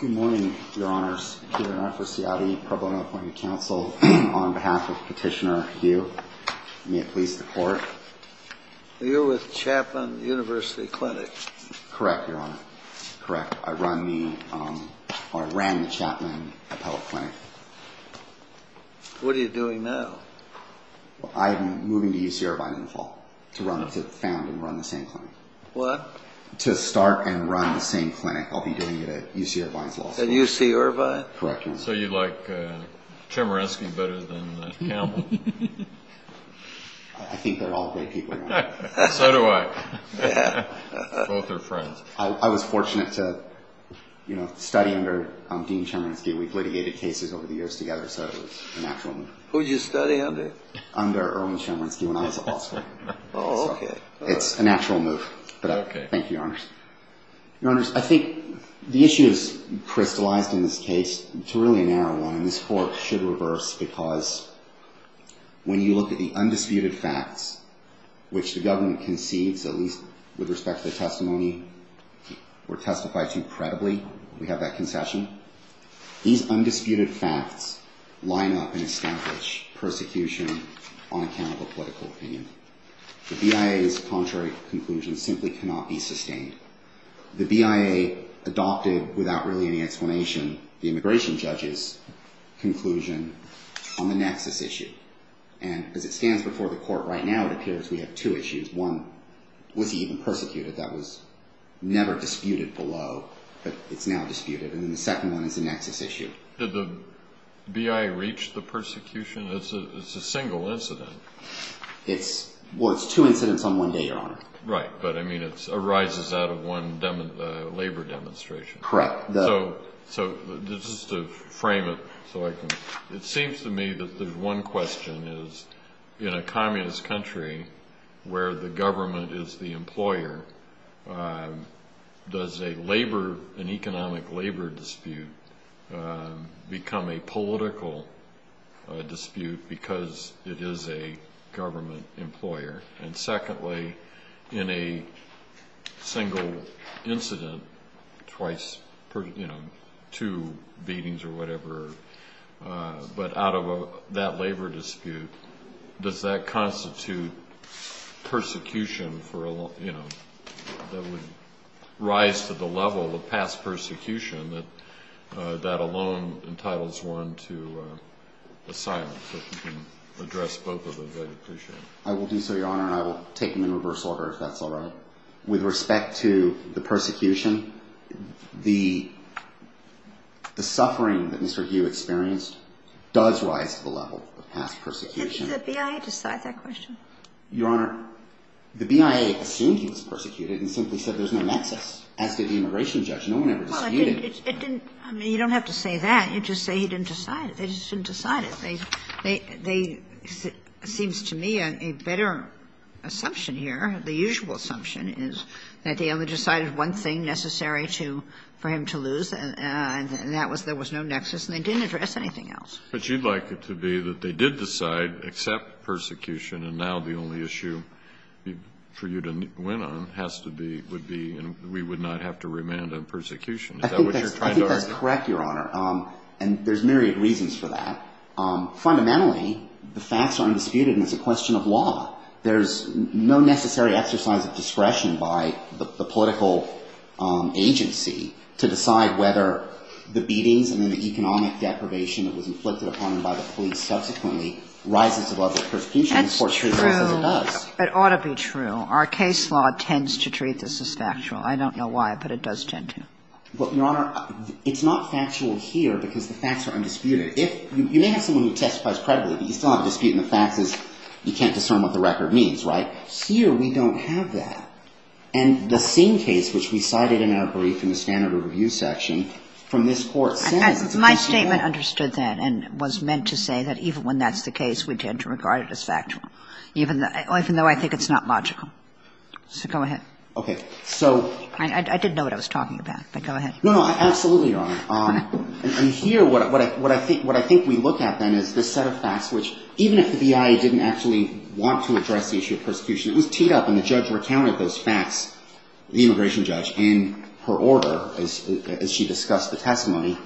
Good morning, Your Honors. Peter Rafferciati, Pro Bono Appointee Council. On behalf of Petitioner Hu, may it please the Court. You're with Chapman University Clinic. Correct, Your Honor. Correct. I run the, or ran the Chapman Appellate Clinic. What are you doing now? Well, I'm moving to UC Irvine in the fall to run, to found and run the same clinic. What? To start and run the same clinic. I'll be doing it at UC Irvine's law school. At UC Irvine? Correct, Your Honor. So you like Chemerinsky better than Campbell? I think they're all great people, Your Honor. So do I. Both are friends. I was fortunate to, you know, study under Dean Chemerinsky. We've litigated cases over the years together, so it was a natural move. Who did you study under? Under Irwin Chemerinsky when I was at law school. Oh, okay. It's a natural move. Okay. Thank you, Your Honors. Your Honors, I think the issue is crystallized in this case. It's really a narrow one, and this Court should reverse, because when you look at the undisputed facts, which the government concedes, at least with respect to the testimony, or testifies to credibly, we have that concession. These undisputed facts line up and establish persecution on account of a political opinion. The BIA's contrary conclusion simply cannot be sustained. The BIA adopted, without really any explanation, the immigration judge's conclusion on the nexus issue. And as it stands before the Court right now, it appears we have two issues. One, was he even persecuted? That was never disputed below, but it's now disputed. And then the second one is the nexus issue. Did the BIA reach the persecution? It's a single incident. Well, it's two incidents on one day, Your Honor. Right, but I mean it arises out of one labor demonstration. Correct. So just to frame it, it seems to me that the one question is, in a communist country where the government is the employer, does an economic labor dispute become a political dispute because it is a government employer? And secondly, in a single incident, twice, you know, two beatings or whatever, but out of that labor dispute, does that constitute persecution for, you know, that would rise to the level of past persecution that that alone entitles one to asylum? So if you can address both of those, I'd appreciate it. I will do so, Your Honor. And I will take them in reverse order if that's all right. With respect to the persecution, the suffering that Mr. Hugh experienced does rise to the level of past persecution. Didn't the BIA decide that question? Your Honor, the BIA assumed he was persecuted and simply said there's no nexus, as did the immigration judge. No one ever disputed. Well, it didn't – I mean, you don't have to say that. You just say he didn't decide it. They just didn't decide it. They – they – it seems to me a better assumption here, the usual assumption, is that they only decided one thing necessary to – for him to lose, and that was there was no nexus, and they didn't address anything else. But you'd like it to be that they did decide, accept persecution, and now the only issue for you to win on has to be – would be, and we would not have to remand on persecution. Is that what you're trying to argue? I think that's correct, Your Honor. And there's myriad reasons for that. Fundamentally, the facts are undisputed, and it's a question of law. There's no necessary exercise of discretion by the political agency to decide whether the beatings and then the economic deprivation that was inflicted upon him by the police subsequently rises to the level of persecution. That's true. It ought to be true. Our case law tends to treat this as factual. I don't know why, but it does tend to. But, Your Honor, it's not factual here because the facts are undisputed. If – you may have someone who testifies credibly, but you still have a dispute and the fact is you can't discern what the record means, right? Here we don't have that. And the same case which we cited in our brief in the standard review section from this Court says it's a question of law. My statement understood that and was meant to say that even when that's the case, we tend to regard it as factual, even though I think it's not logical. So go ahead. Okay. So – I didn't know what I was talking about, but go ahead. No, no. Absolutely, Your Honor. And here what I think we look at then is this set of facts which even if the BIA didn't actually want to address the issue of persecution, it was teed up and the judge recounted those facts, the immigration judge, in her order as she discussed the testimony.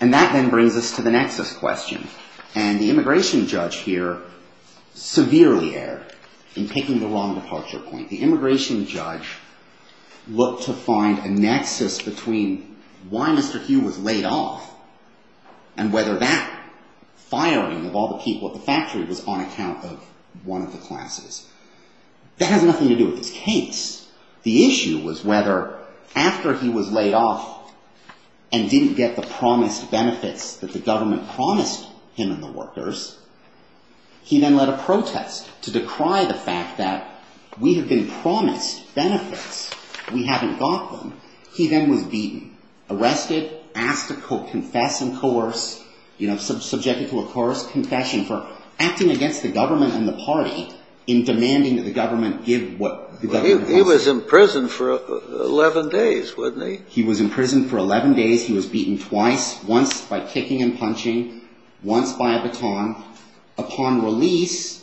And that then brings us to the nexus question. And the immigration judge here severely erred in taking the wrong departure point. The immigration judge looked to find a nexus between why Mr. Hugh was laid off and whether that firing of all the people at the factory was on account of one of the classes. That has nothing to do with this case. The issue was whether after he was laid off and didn't get the promised benefits that the government promised him and the workers, he then led a protest to decry the fact that we have been promised benefits. We haven't got them. He then was beaten, arrested, asked to confess and coerce, you know, subjected to a coerced confession for acting against the government and the party in demanding that the government give what the government wants. He was in prison for 11 days, wasn't he? He was in prison for 11 days. Upon release,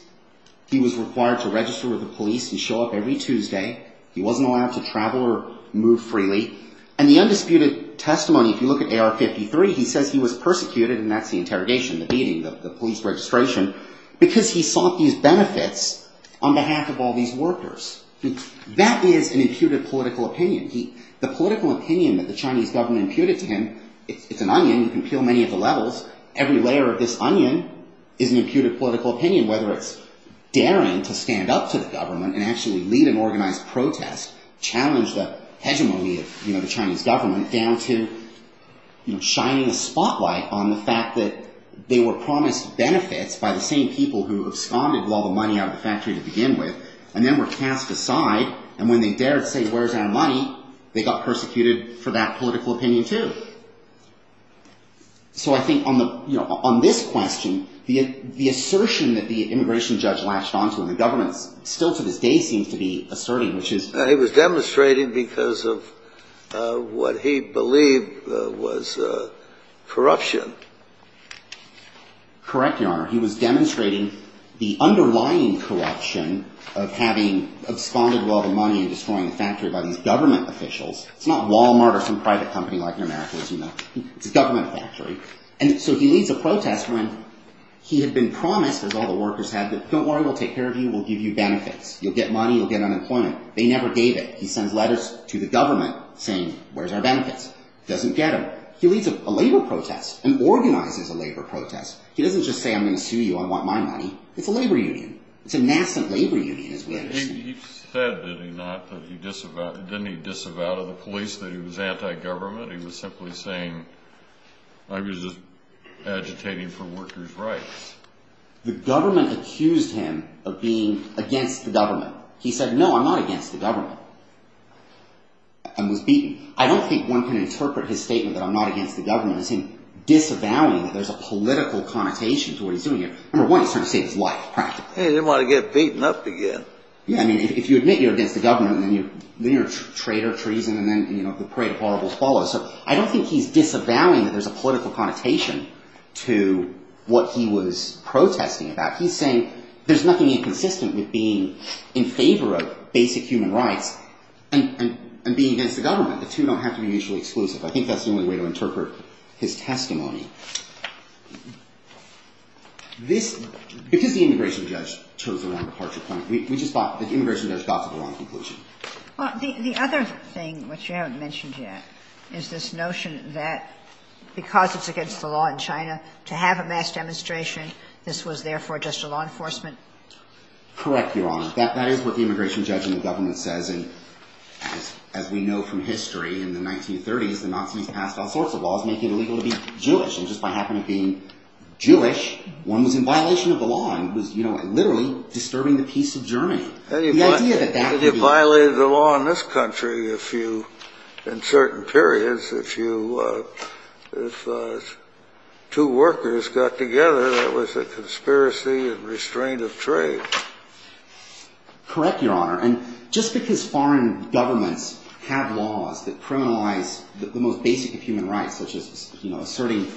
he was required to register with the police and show up every Tuesday. He wasn't allowed to travel or move freely. And the undisputed testimony, if you look at AR-53, he says he was persecuted, and that's the interrogation, the beating, the police registration, because he sought these benefits on behalf of all these workers. That is an imputed political opinion. The political opinion that the Chinese government imputed to him, it's an onion, you can peel many of the levels, every layer of this onion is an imputed political opinion, whether it's daring to stand up to the government and actually lead an organized protest, challenge the hegemony of, you know, the Chinese government down to, you know, shining a spotlight on the fact that they were promised benefits by the same people who absconded with all the money out of the factory to begin with, and then were cast aside. And when they dared say, where's our money, they got persecuted for that So I think on the, you know, on this question, the assertion that the immigration judge latched onto and the government still to this day seems to be asserting, which is... He was demonstrating because of what he believed was corruption. Correct, Your Honor. He was demonstrating the underlying corruption of having absconded with all the money and destroying the factory by these government officials. It's not Walmart or some private company like in America, as you know. It's a government factory. And so he leads a protest when he had been promised, as all the workers had, that don't worry, we'll take care of you, we'll give you benefits. You'll get money, you'll get unemployment. They never gave it. He sends letters to the government saying, where's our benefits? Doesn't get them. He leads a labor protest, an organized labor protest. He doesn't just say, I'm going to sue you, I want my money. It's a labor union. It's a nascent labor union, as we understand it. He said, did he not, that he disavowed... Didn't he disavow to the police that he was anti-government? He was simply saying, I was just agitating for workers' rights. The government accused him of being against the government. He said, no, I'm not against the government. And was beaten. I don't think one can interpret his statement that I'm not against the government as him disavowing that there's a political connotation to what he's doing here. Number one, he's trying to save his life, practically. He didn't want to get beaten up again. Yeah, I mean, if you admit you're against the government, then you're a traitor of treason, and then the parade of horribles follows. So I don't think he's disavowing that there's a political connotation to what he was protesting about. He's saying there's nothing inconsistent with being in favor of basic human rights and being against the government. The two don't have to be mutually exclusive. I think that's the only way to interpret his testimony. Because the immigration judge chose the wrong departure point. The immigration judge got to the wrong conclusion. The other thing, which you haven't mentioned yet, is this notion that because it's against the law in China to have a mass demonstration, this was therefore just a law enforcement? Correct, Your Honor. That is what the immigration judge in the government says. And as we know from history, in the 1930s, the Nazis passed all sorts of laws making it illegal to be Jewish. And just by happening to be Jewish, one was in violation of the law and was literally disturbing the peace of Germany. You violated the law in this country in certain periods. If two workers got together, that was a conspiracy and restraint of trade. Correct, Your Honor. And just because foreign governments have laws that criminalize the most basic of human rights such as asserting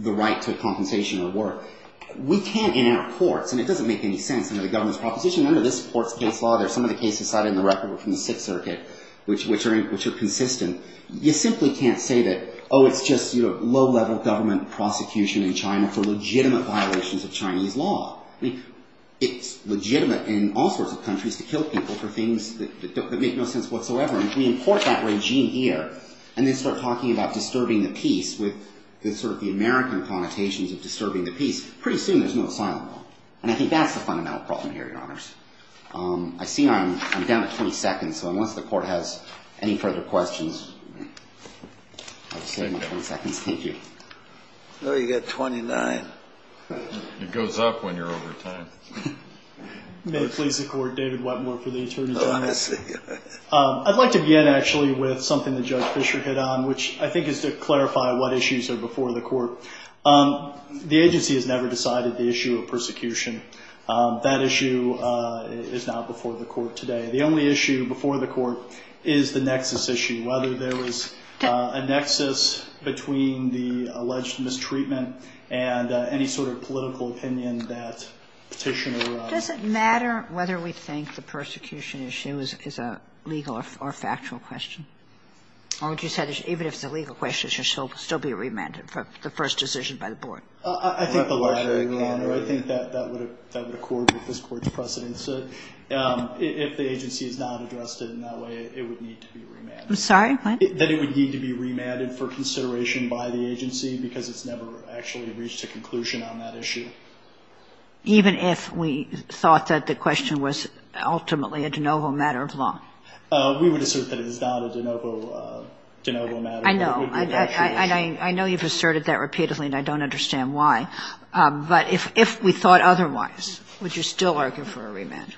the right to compensation or work, we can't in our courts, and it doesn't make any sense under the government's proposition, under this court's case law, there's some of the cases cited in the record from the Sixth Circuit, which are consistent. You simply can't say that, oh, it's just low-level government prosecution in China for legitimate violations of Chinese law. I mean, it's legitimate in all sorts of countries to kill people for things that make no sense whatsoever. And if we import that regime here, and they start talking about disturbing the peace with sort of the American connotations of disturbing the peace, pretty soon there's no asylum law. And I think that's the fundamental problem here, Your Honors. I see I'm down to 20 seconds, so unless the Court has any further questions, I'll just save my 20 seconds. Thank you. Oh, you got 29. It goes up when you're over time. May it please the Court, David Wetmore for the Attorney General. I'd like to begin, actually, with something that Judge Fisher hit on, which I think is to clarify what issues are before the Court. The agency has never decided the issue of persecution. That issue is not before the Court today. The only issue before the Court is the nexus issue, whether there was a nexus between the alleged mistreatment and any sort of political opinion that Petitioner raised. Does it matter whether we think the persecution issue is a legal or factual question? Or would you say even if it's a legal question, it should still be remanded for the first decision by the Board? I think the latter, Your Honor. I think that would accord with this Court's precedence. If the agency has not addressed it in that way, it would need to be remanded. I'm sorry, what? That it would need to be remanded for consideration by the agency because it's never actually reached a conclusion on that issue. Even if we thought that the question was ultimately a de novo matter of law? We would assert that it is not a de novo matter. I know. And I know you've asserted that repeatedly, and I don't understand why. But if we thought otherwise, would you still argue for a remand?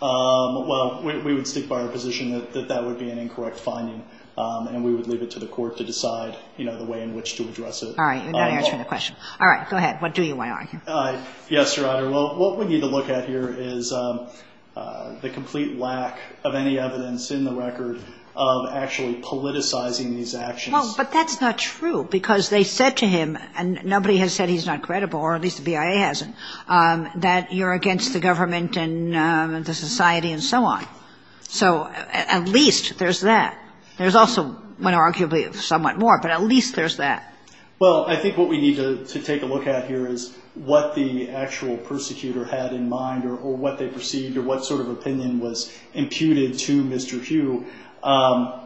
Well, we would stick by our position that that would be an incorrect finding, and we would leave it to the Court to decide, you know, the way in which to address it. All right, you're not answering the question. What do you want to argue? Yes, Your Honor. Well, what we need to look at here is the complete lack of any evidence in the record of actually politicizing these actions. Well, but that's not true because they said to him, and nobody has said he's not credible or at least the BIA hasn't, that you're against the government and the society and so on. So at least there's that. There's also arguably somewhat more, but at least there's that. Well, I think what we need to take a look at here is what the actual persecutor had in mind or what they perceived or what sort of opinion was imputed to Mr. Hugh.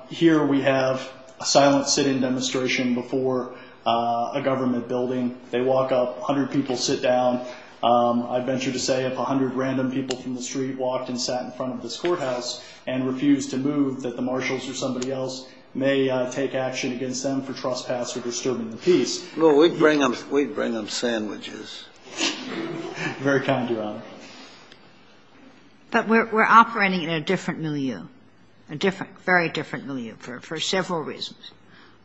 Here we have a silent sit-in demonstration before a government building. They walk up, 100 people sit down. I venture to say if 100 random people from the street walked and sat in front of this courthouse and refused to move, that the marshals or somebody else may take action against them for trespass or disturbing the peace. Well, we'd bring them sandwiches. Very kind, Your Honor. But we're operating in a different milieu, a different, very different milieu for several reasons.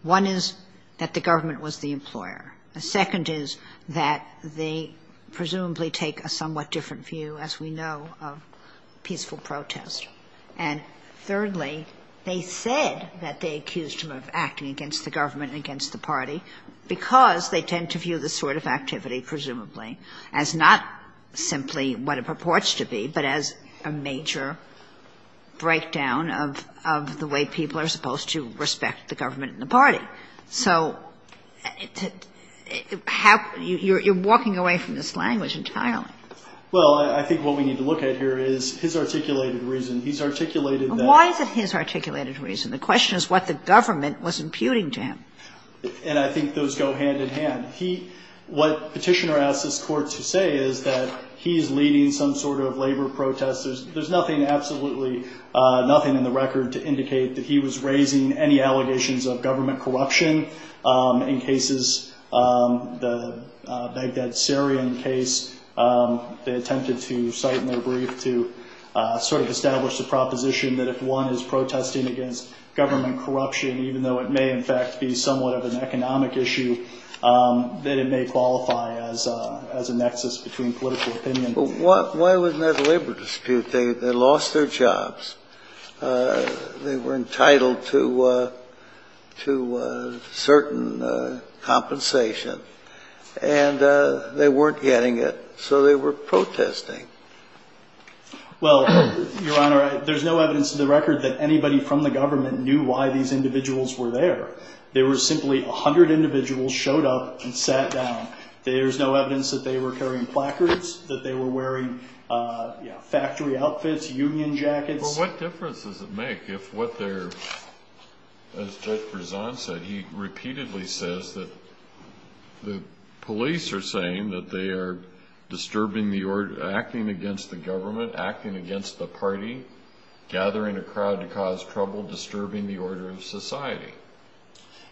One is that the government was the employer. The second is that they presumably take a somewhat different view, as we know, of peaceful protest. And thirdly, they said that they accused him of acting against the government and against the party because they tend to view this sort of activity, presumably, as not simply what it purports to be, but as a major breakdown of the way people are supposed to respect the government and the party. So you're walking away from this language entirely. Well, I think what we need to look at here is his articulated reason. He's articulated that. Why is it his articulated reason? The question is what the government was imputing to him. And I think those go hand-in-hand. What Petitioner asks this Court to say is that he's leading some sort of labor protest. There's nothing, absolutely nothing in the record to indicate that he was raising any allegations of government corruption in cases, the Baghdad Syrian case. They attempted to cite in their brief to sort of establish the proposition that if one is protesting against government corruption, even though it may in fact be somewhat of an economic issue, that it may qualify as a nexus between political opinion. Why wasn't that a labor dispute? They lost their jobs. They were entitled to certain compensation. And they weren't getting it, so they were protesting. Well, Your Honor, there's no evidence in the record that anybody from the government knew why these individuals were there. They were simply 100 individuals showed up and sat down. There's no evidence that they were carrying placards, that they were wearing factory outfits, union jackets. Well, what difference does it make if what they're, as Judge Berzon said, he repeatedly says that the police are saying that they are disturbing the order, acting against the government, acting against the party, gathering a crowd to cause trouble, disturbing the order of society?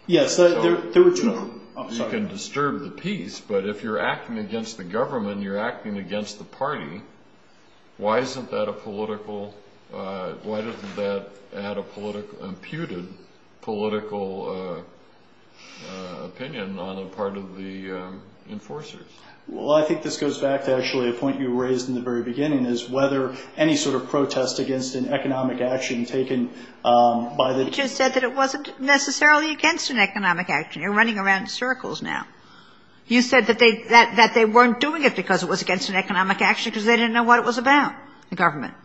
Yes, there were two of them. You can disturb the peace, but if you're acting against the government and you're acting against the party, why isn't that a political, why doesn't that add a putative political opinion on the part of the enforcers? Well, I think this goes back to actually a point you raised in the very beginning, is whether any sort of protest against an economic action taken by the... You just said that it wasn't necessarily against an economic action. You're running around in circles now. You said that they weren't doing it because it was against an economic action because they didn't know what it was about, the government.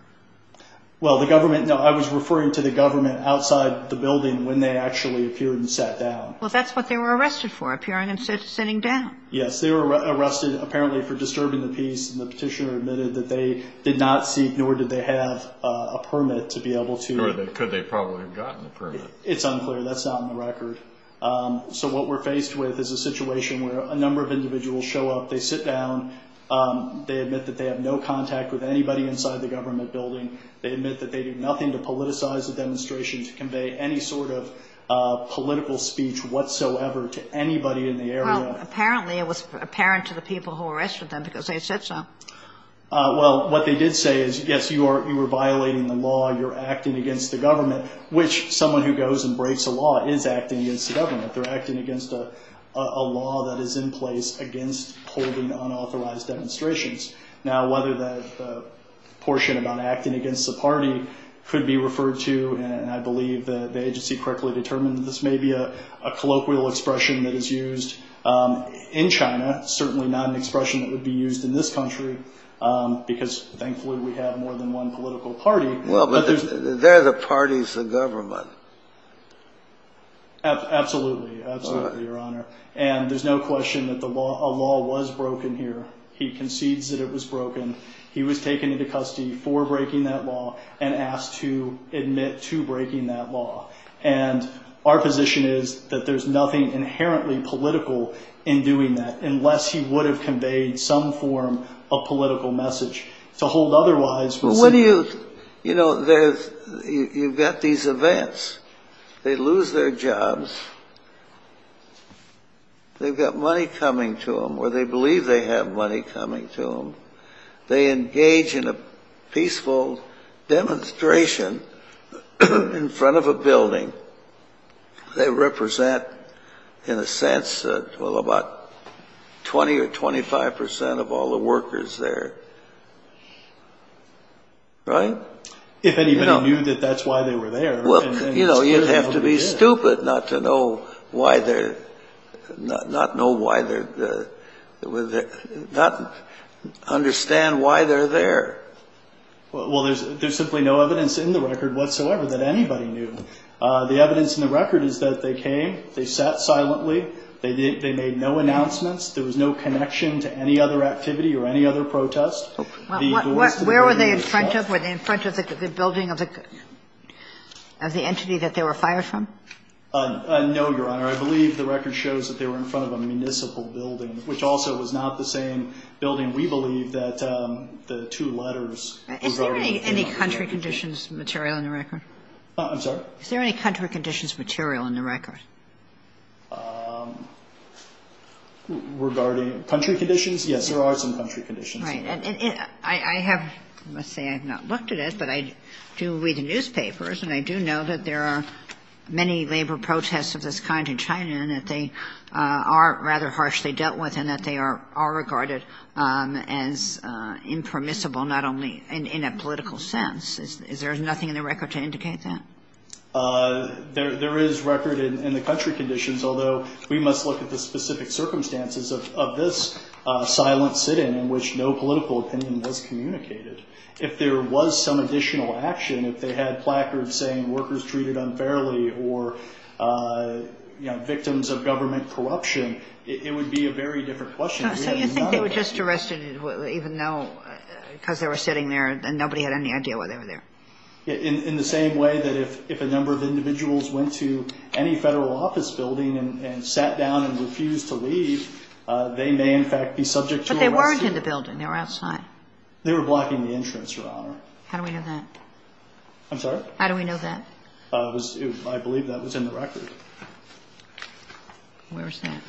Well, the government, no, I was referring to the government outside the building when they actually appeared and sat down. Well, that's what they were arrested for, appearing and sitting down. Yes, they were arrested apparently for disturbing the peace, and the petitioner admitted that they did not seek, nor did they have, a permit to be able to... Could they probably have gotten a permit? It's unclear. That's not on the record. So what we're faced with is a situation where a number of individuals show up, they sit down, they admit that they have no contact with anybody inside the government building, they admit that they did nothing to politicize the demonstration, to convey any sort of political speech whatsoever to anybody in the area. Well, apparently it was apparent to the people who arrested them because they said so. Well, what they did say is, yes, you are violating the law, you're acting against the government, which someone who goes and breaks the law is acting against the government. They're acting against a law that is in place against holding unauthorized demonstrations. Now, whether that portion about acting against the party could be referred to, and I believe the agency correctly determined that this may be a colloquial expression that is used in China, certainly not an expression that would be used in this country, because thankfully we have more than one political party. Well, but they're the parties, the government. Absolutely. Absolutely, Your Honor. And there's no question that a law was broken here. He concedes that it was broken. He was taken into custody for breaking that law and asked to admit to breaking that law. And our position is that there's nothing inherently political in doing that unless he would have conveyed some form of political message to hold otherwise. Well, what do you, you know, you've got these events. They lose their jobs. They've got money coming to them, or they believe they have money coming to them. They engage in a peaceful demonstration in front of a building. They represent, in a sense, well, about 20 or 25 percent of all the workers there. Right? If anybody knew that that's why they were there. Well, you know, you'd have to be stupid not to know why they're not know why they're not understand why they're there. Well, there's simply no evidence in the record whatsoever that anybody knew. The evidence in the record is that they came, they sat silently, they made no announcements, there was no connection to any other activity or any other protest. Where were they in front of? Were they in front of the building of the entity that they were fired from? No, Your Honor. I believe the record shows that they were in front of a municipal building, which also was not the same building, we believe, that the two letters regarding Is there any country conditions material in the record? I'm sorry? Is there any country conditions material in the record? Regarding country conditions? Yes, there are some country conditions. Right. I have to say I have not looked at it, but I do read the newspapers, and I do know that there are many labor protests of this kind in China, and that they are rather harshly dealt with, and that they are regarded as impermissible not only in a political sense. Is there nothing in the record to indicate that? There is record in the country conditions, although we must look at the specific circumstances of this silent sitting in which no political opinion was communicated. If there was some additional action, if they had placards saying workers treated unfairly or, you know, victims of government corruption, it would be a very different question. So you think they were just arrested even though because they were sitting there and nobody had any idea why they were there? In the same way that if a number of individuals went to any Federal office building and sat down and refused to leave, they may, in fact, be subject to arrest. But they weren't in the building. They were outside. They were blocking the entrance, Your Honor. How do we know that? I'm sorry? How do we know that? I believe that was in the record. Where is that?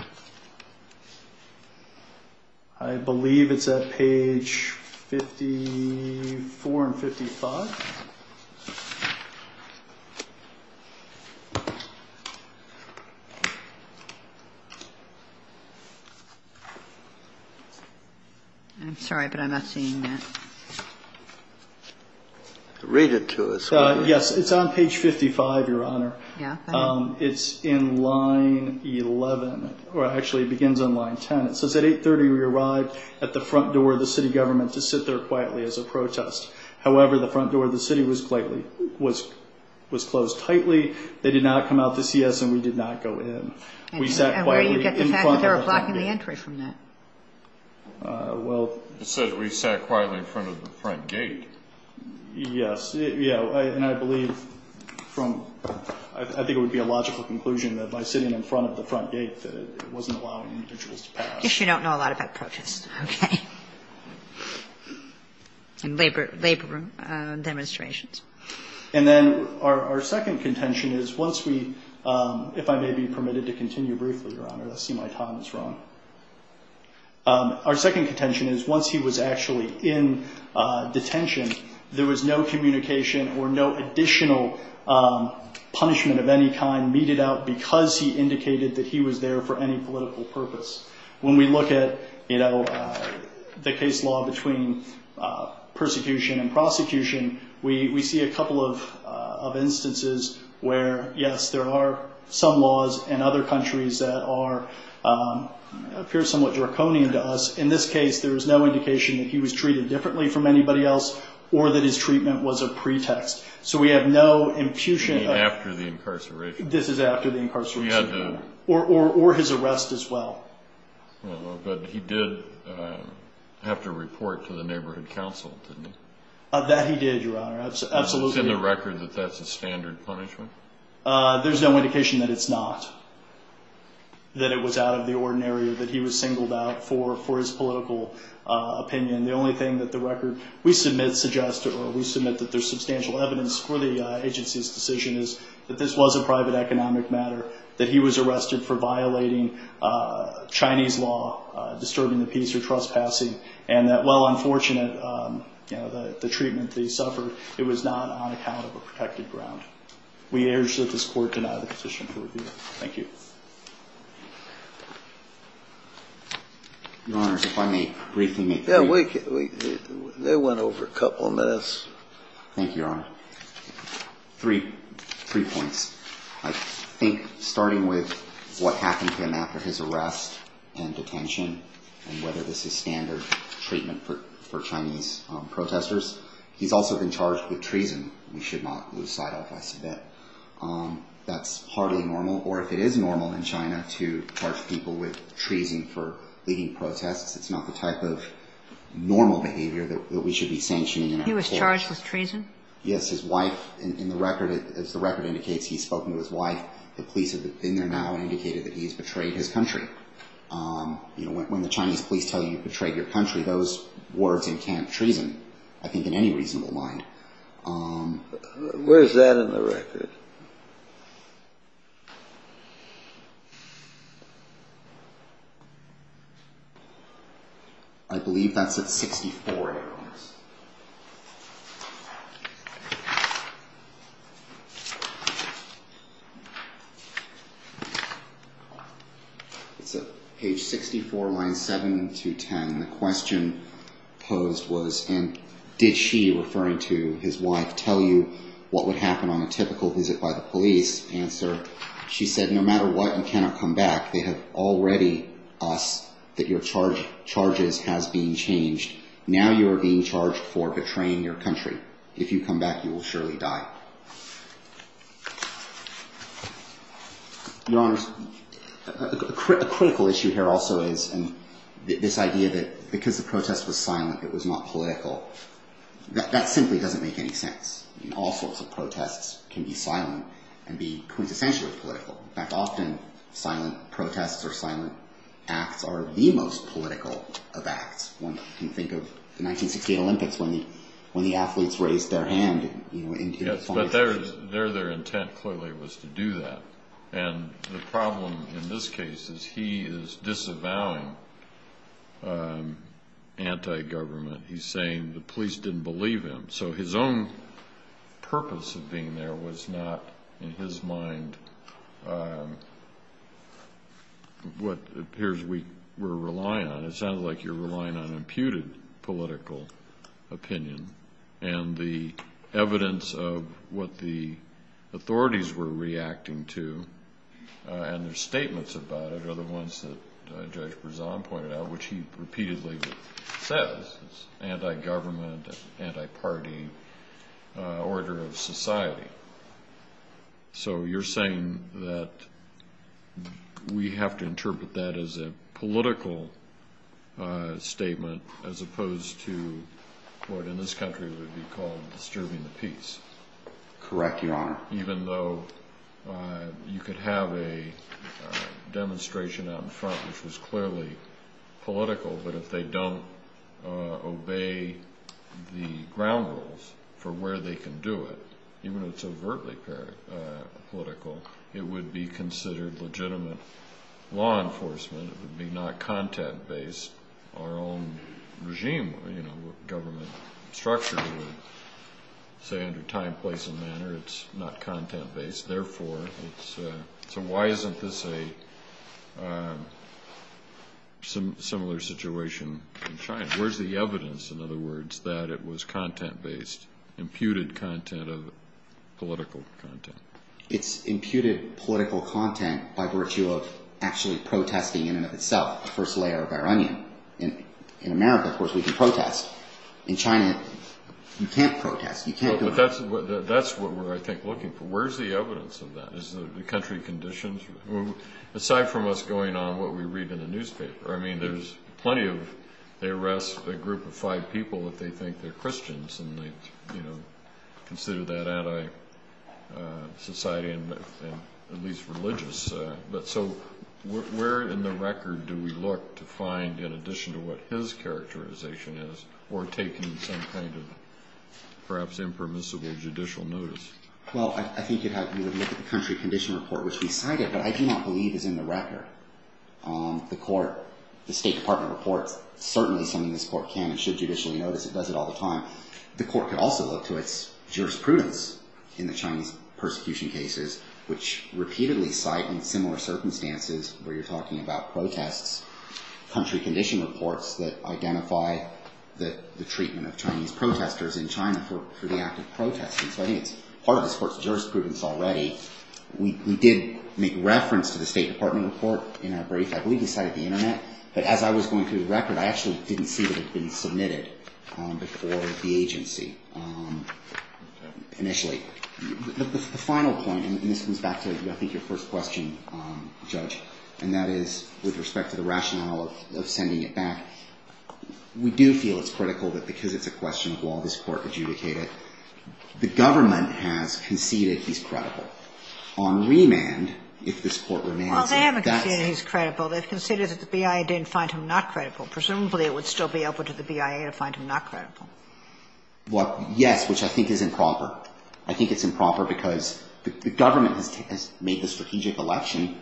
I believe it's at page 54 and 55. I'm sorry, but I'm not seeing that. Read it to us. Yes. It's on page 55, Your Honor. Yeah. It's in line 11. Actually, it begins on line 10. It says, At 830 we arrived at the front door of the city government to sit there quietly as a protest. However, the front door of the city was closed tightly. They did not come out to see us and we did not go in. We sat quietly in front of the front gate. And where do you get the fact that they were blocking the entry from that? Well. It says we sat quietly in front of the front gate. Yes. Yeah. And I believe from – I think it would be a logical conclusion that by sitting in front of the front gate that it wasn't allowing individuals to pass. I guess you don't know a lot about protests. Okay. And labor demonstrations. And then our second contention is once we – if I may be permitted to continue briefly, Your Honor. I see my time is wrong. Our second contention is once he was actually in detention, there was no communication or no additional punishment of any kind meted out because he indicated that he was there for any political purpose. When we look at, you know, the case law between persecution and prosecution, we see a couple of instances where, yes, there are some laws in other countries that are – appear somewhat draconian to us. In this case, there was no indication that he was treated differently from anybody else or that his treatment was a pretext. So we have no infusion of – After the incarceration. This is after the incarceration. We had the – Or his arrest as well. But he did have to report to the neighborhood council, didn't he? That he did, Your Honor. Absolutely. Is it in the record that that's a standard punishment? There's no indication that it's not. That it was out of the ordinary or that he was singled out for his political opinion. The only thing that the record – we submit, suggest, or we submit that there's substantial evidence for the agency's decision is that this was a private economic matter, that he was arrested for violating Chinese law, disturbing the peace or trespassing, and that while unfortunate, you know, the treatment that he suffered, it was not on account of a protected ground. We urge that this Court deny the petition for review. Thank you. Your Honors, if I may briefly make – Yeah, we – they went over a couple of minutes. Thank you, Your Honor. Three points. I think starting with what happened to him after his arrest and detention and whether this is standard treatment for Chinese protesters. He's also been charged with treason. We should not lose sight of this a bit. That's hardly normal. Or if it is normal in China to charge people with treason for leading protests, it's not the type of normal behavior that we should be sanctioning. He was charged with treason? Yes. His wife – in the record, as the record indicates, he's spoken to his wife. The police have been there now and indicated that he has betrayed his country. You know, when the Chinese police tell you you've betrayed your country, those words encamp treason, I think, in any reasonable mind. Where is that in the record? I believe that's at 64, Your Honor. It's at page 64, lines 7 to 10. The question posed was, and did she, referring to his wife, tell you what would happen on a typical visit by the police? Answer, she said, no matter what, you cannot come back. They have already – us – that your charges has been changed. Now you are being charged for betraying your country. If you come back, you will surely die. Your Honor, a critical issue here also is this idea that because the protest was silent, it was not political. That simply doesn't make any sense. All sorts of protests can be silent and be quintessentially political. In fact, often silent protests or silent acts are the most political of acts. One can think of the 1968 Olympics when the athletes raised their hand. Yes, but their intent clearly was to do that. And the problem in this case is he is disavowing anti-government. He's saying the police didn't believe him. So his own purpose of being there was not, in his mind, what it appears we're relying on. It sounds like you're relying on imputed political opinion. And the evidence of what the authorities were reacting to and their statements about it are the ones that Judge Berzon pointed out, which he repeatedly says is anti-government, anti-party order of society. So you're saying that we have to interpret that as a political statement as opposed to what in this country would be called disturbing the peace. Correct, Your Honor. Even though you could have a demonstration out in front which was clearly political, but if they don't obey the ground rules for where they can do it, even if it's overtly political, it would be considered legitimate law enforcement. It would be not content-based. Our own regime, government structure would say under time, place, and manner, it's not content-based. So why isn't this a similar situation in China? Where's the evidence, in other words, that it was content-based, imputed content of political content? It's imputed political content by virtue of actually protesting in and of itself the first layer of our onion. In America, of course, we can protest. In China, you can't protest. You can't do it. That's what we're, I think, looking for. Where's the evidence of that? Is it the country conditions? Aside from what's going on, what we read in the newspaper, I mean, there's plenty of, they arrest a group of five people if they think they're Christians and they, you know, consider that anti-society and at least religious. But so where in the record do we look to find, in addition to what his characterization is, we're taking some kind of perhaps impermissible judicial notice? Well, I think you'd have to look at the country condition report, which we cited, but I do not believe is in the record. The court, the State Department reports, certainly something this court can and should judicially notice. It does it all the time. The court could also look to its jurisprudence in the Chinese persecution cases, which repeatedly cite in similar circumstances where you're talking about protests, country condition reports that identify the treatment of Chinese protesters in China for the act of protesting. So I think it's part of this court's jurisprudence already. We did make reference to the State Department report in our brief, I believe we cited the internet, but as I was going through the record, I actually didn't see that it had been submitted before the agency initially. The final point, and this comes back to I think your first question, Judge, and that is with respect to the rationale of sending it back, we do feel it's critical that because it's a question of law, this court adjudicate it. The government has conceded he's credible. On remand, if this court remands, that's the case. The BIA didn't find him not credible. Presumably, it would still be open to the BIA to find him not credible. Well, yes, which I think is improper. I think it's improper because the government has made the strategic election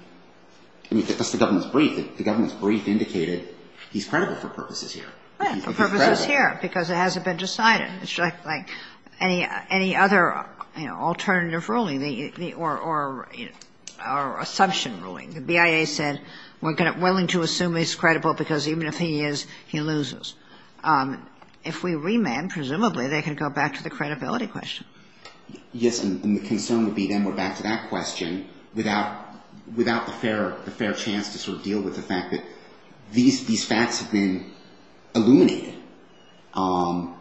and that's the government's brief. The government's brief indicated he's credible for purposes here. Right, for purposes here, because it hasn't been decided. It's like any other, you know, alternative ruling or assumption ruling. The BIA said we're willing to assume he's credible because even if he is, he loses. If we remand, presumably, they can go back to the credibility question. Yes, and the concern would be then we're back to that question without the fair chance to sort of deal with the fact that these facts have been illuminated.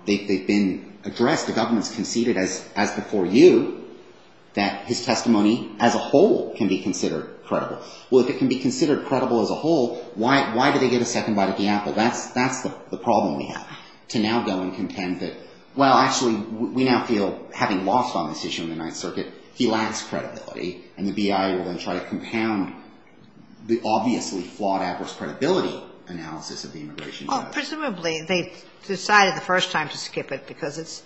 They've been addressed. The government's conceded as before you that his testimony as a whole can be considered credible. Well, if it can be considered credible as a whole, why do they get a second bite at the apple? That's the problem we have, to now go and contend that, well, actually, we now feel, having lost on this issue in the Ninth Circuit, he lacks credibility, and the BIA will then try to compound the obviously flawed adverse credibility analysis of the immigration process. Well, presumably, they decided the first time to skip it because it's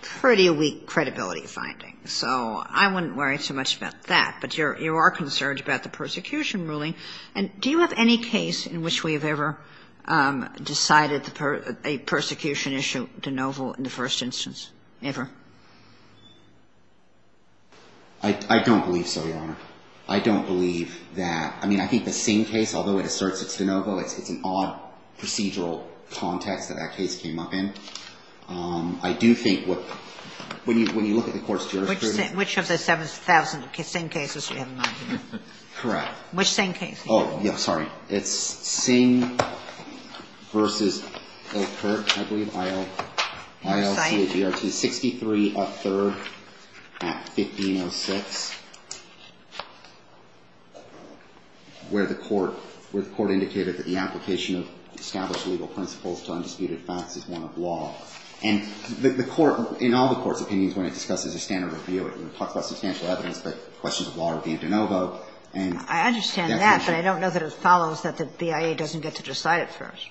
pretty weak credibility finding. So I wouldn't worry too much about that, but you are concerned about the persecution ruling, and do you have any case in which we have ever decided a persecution issue de novo in the first instance, ever? I don't believe so, Your Honor. I don't believe that. I mean, I think the Singh case, although it asserts it's de novo, it's an odd procedural context that that case came up in. I do think what, when you look at the court's jurisprudence. Which of the 7,000 Singh cases do you have in mind? Correct. Which Singh case? Oh, yeah, sorry. It's Singh v. Ilkert, I believe, I-L-T-A-G-R-T, 63 up third, Act 1506, where the court indicated that the application of established legal principles to undisputed law. And the court, in all the court's opinions, when it discusses a standard review, it talks about substantial evidence, but questions of law are de novo. I understand that, but I don't know that it follows that the BIA doesn't get to decide it first.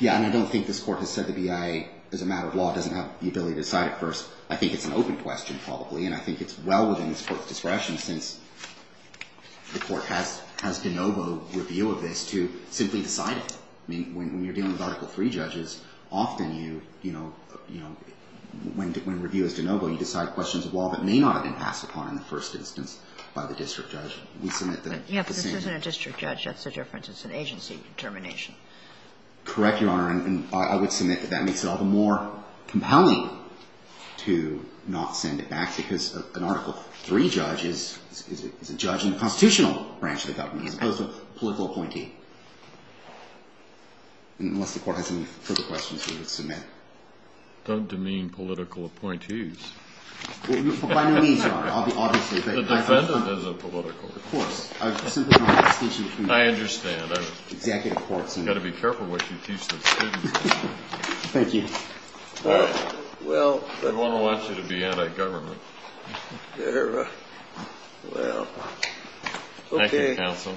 Yeah, and I don't think this Court has said the BIA, as a matter of law, doesn't have the ability to decide it first. I think it's an open question, probably, and I think it's well within this Court's discretion, since the Court has de novo review of this, to simply decide it. I mean, when you're dealing with Article III judges, often you, you know, when review is de novo, you decide questions of law that may not have been passed upon in the first instance by the district judge. We submit that the same. Yeah, but this isn't a district judge. That's the difference. It's an agency determination. Correct, Your Honor, and I would submit that that makes it all the more compelling to not send it back, because an Article III judge is a judge in the constitutional branch of the government, as opposed to a political appointee. Unless the Court has any further questions, we would submit. Don't demean political appointees. By no means, Your Honor. I'll be honest with you. The defendant is a political appointee. Of course. I simply don't want to distinct you from the executive courts. I understand. You've got to be careful what you teach those students. Thank you. Well, well. We don't want you to be anti-government. Well, okay. Thank you, counsel. Thank you.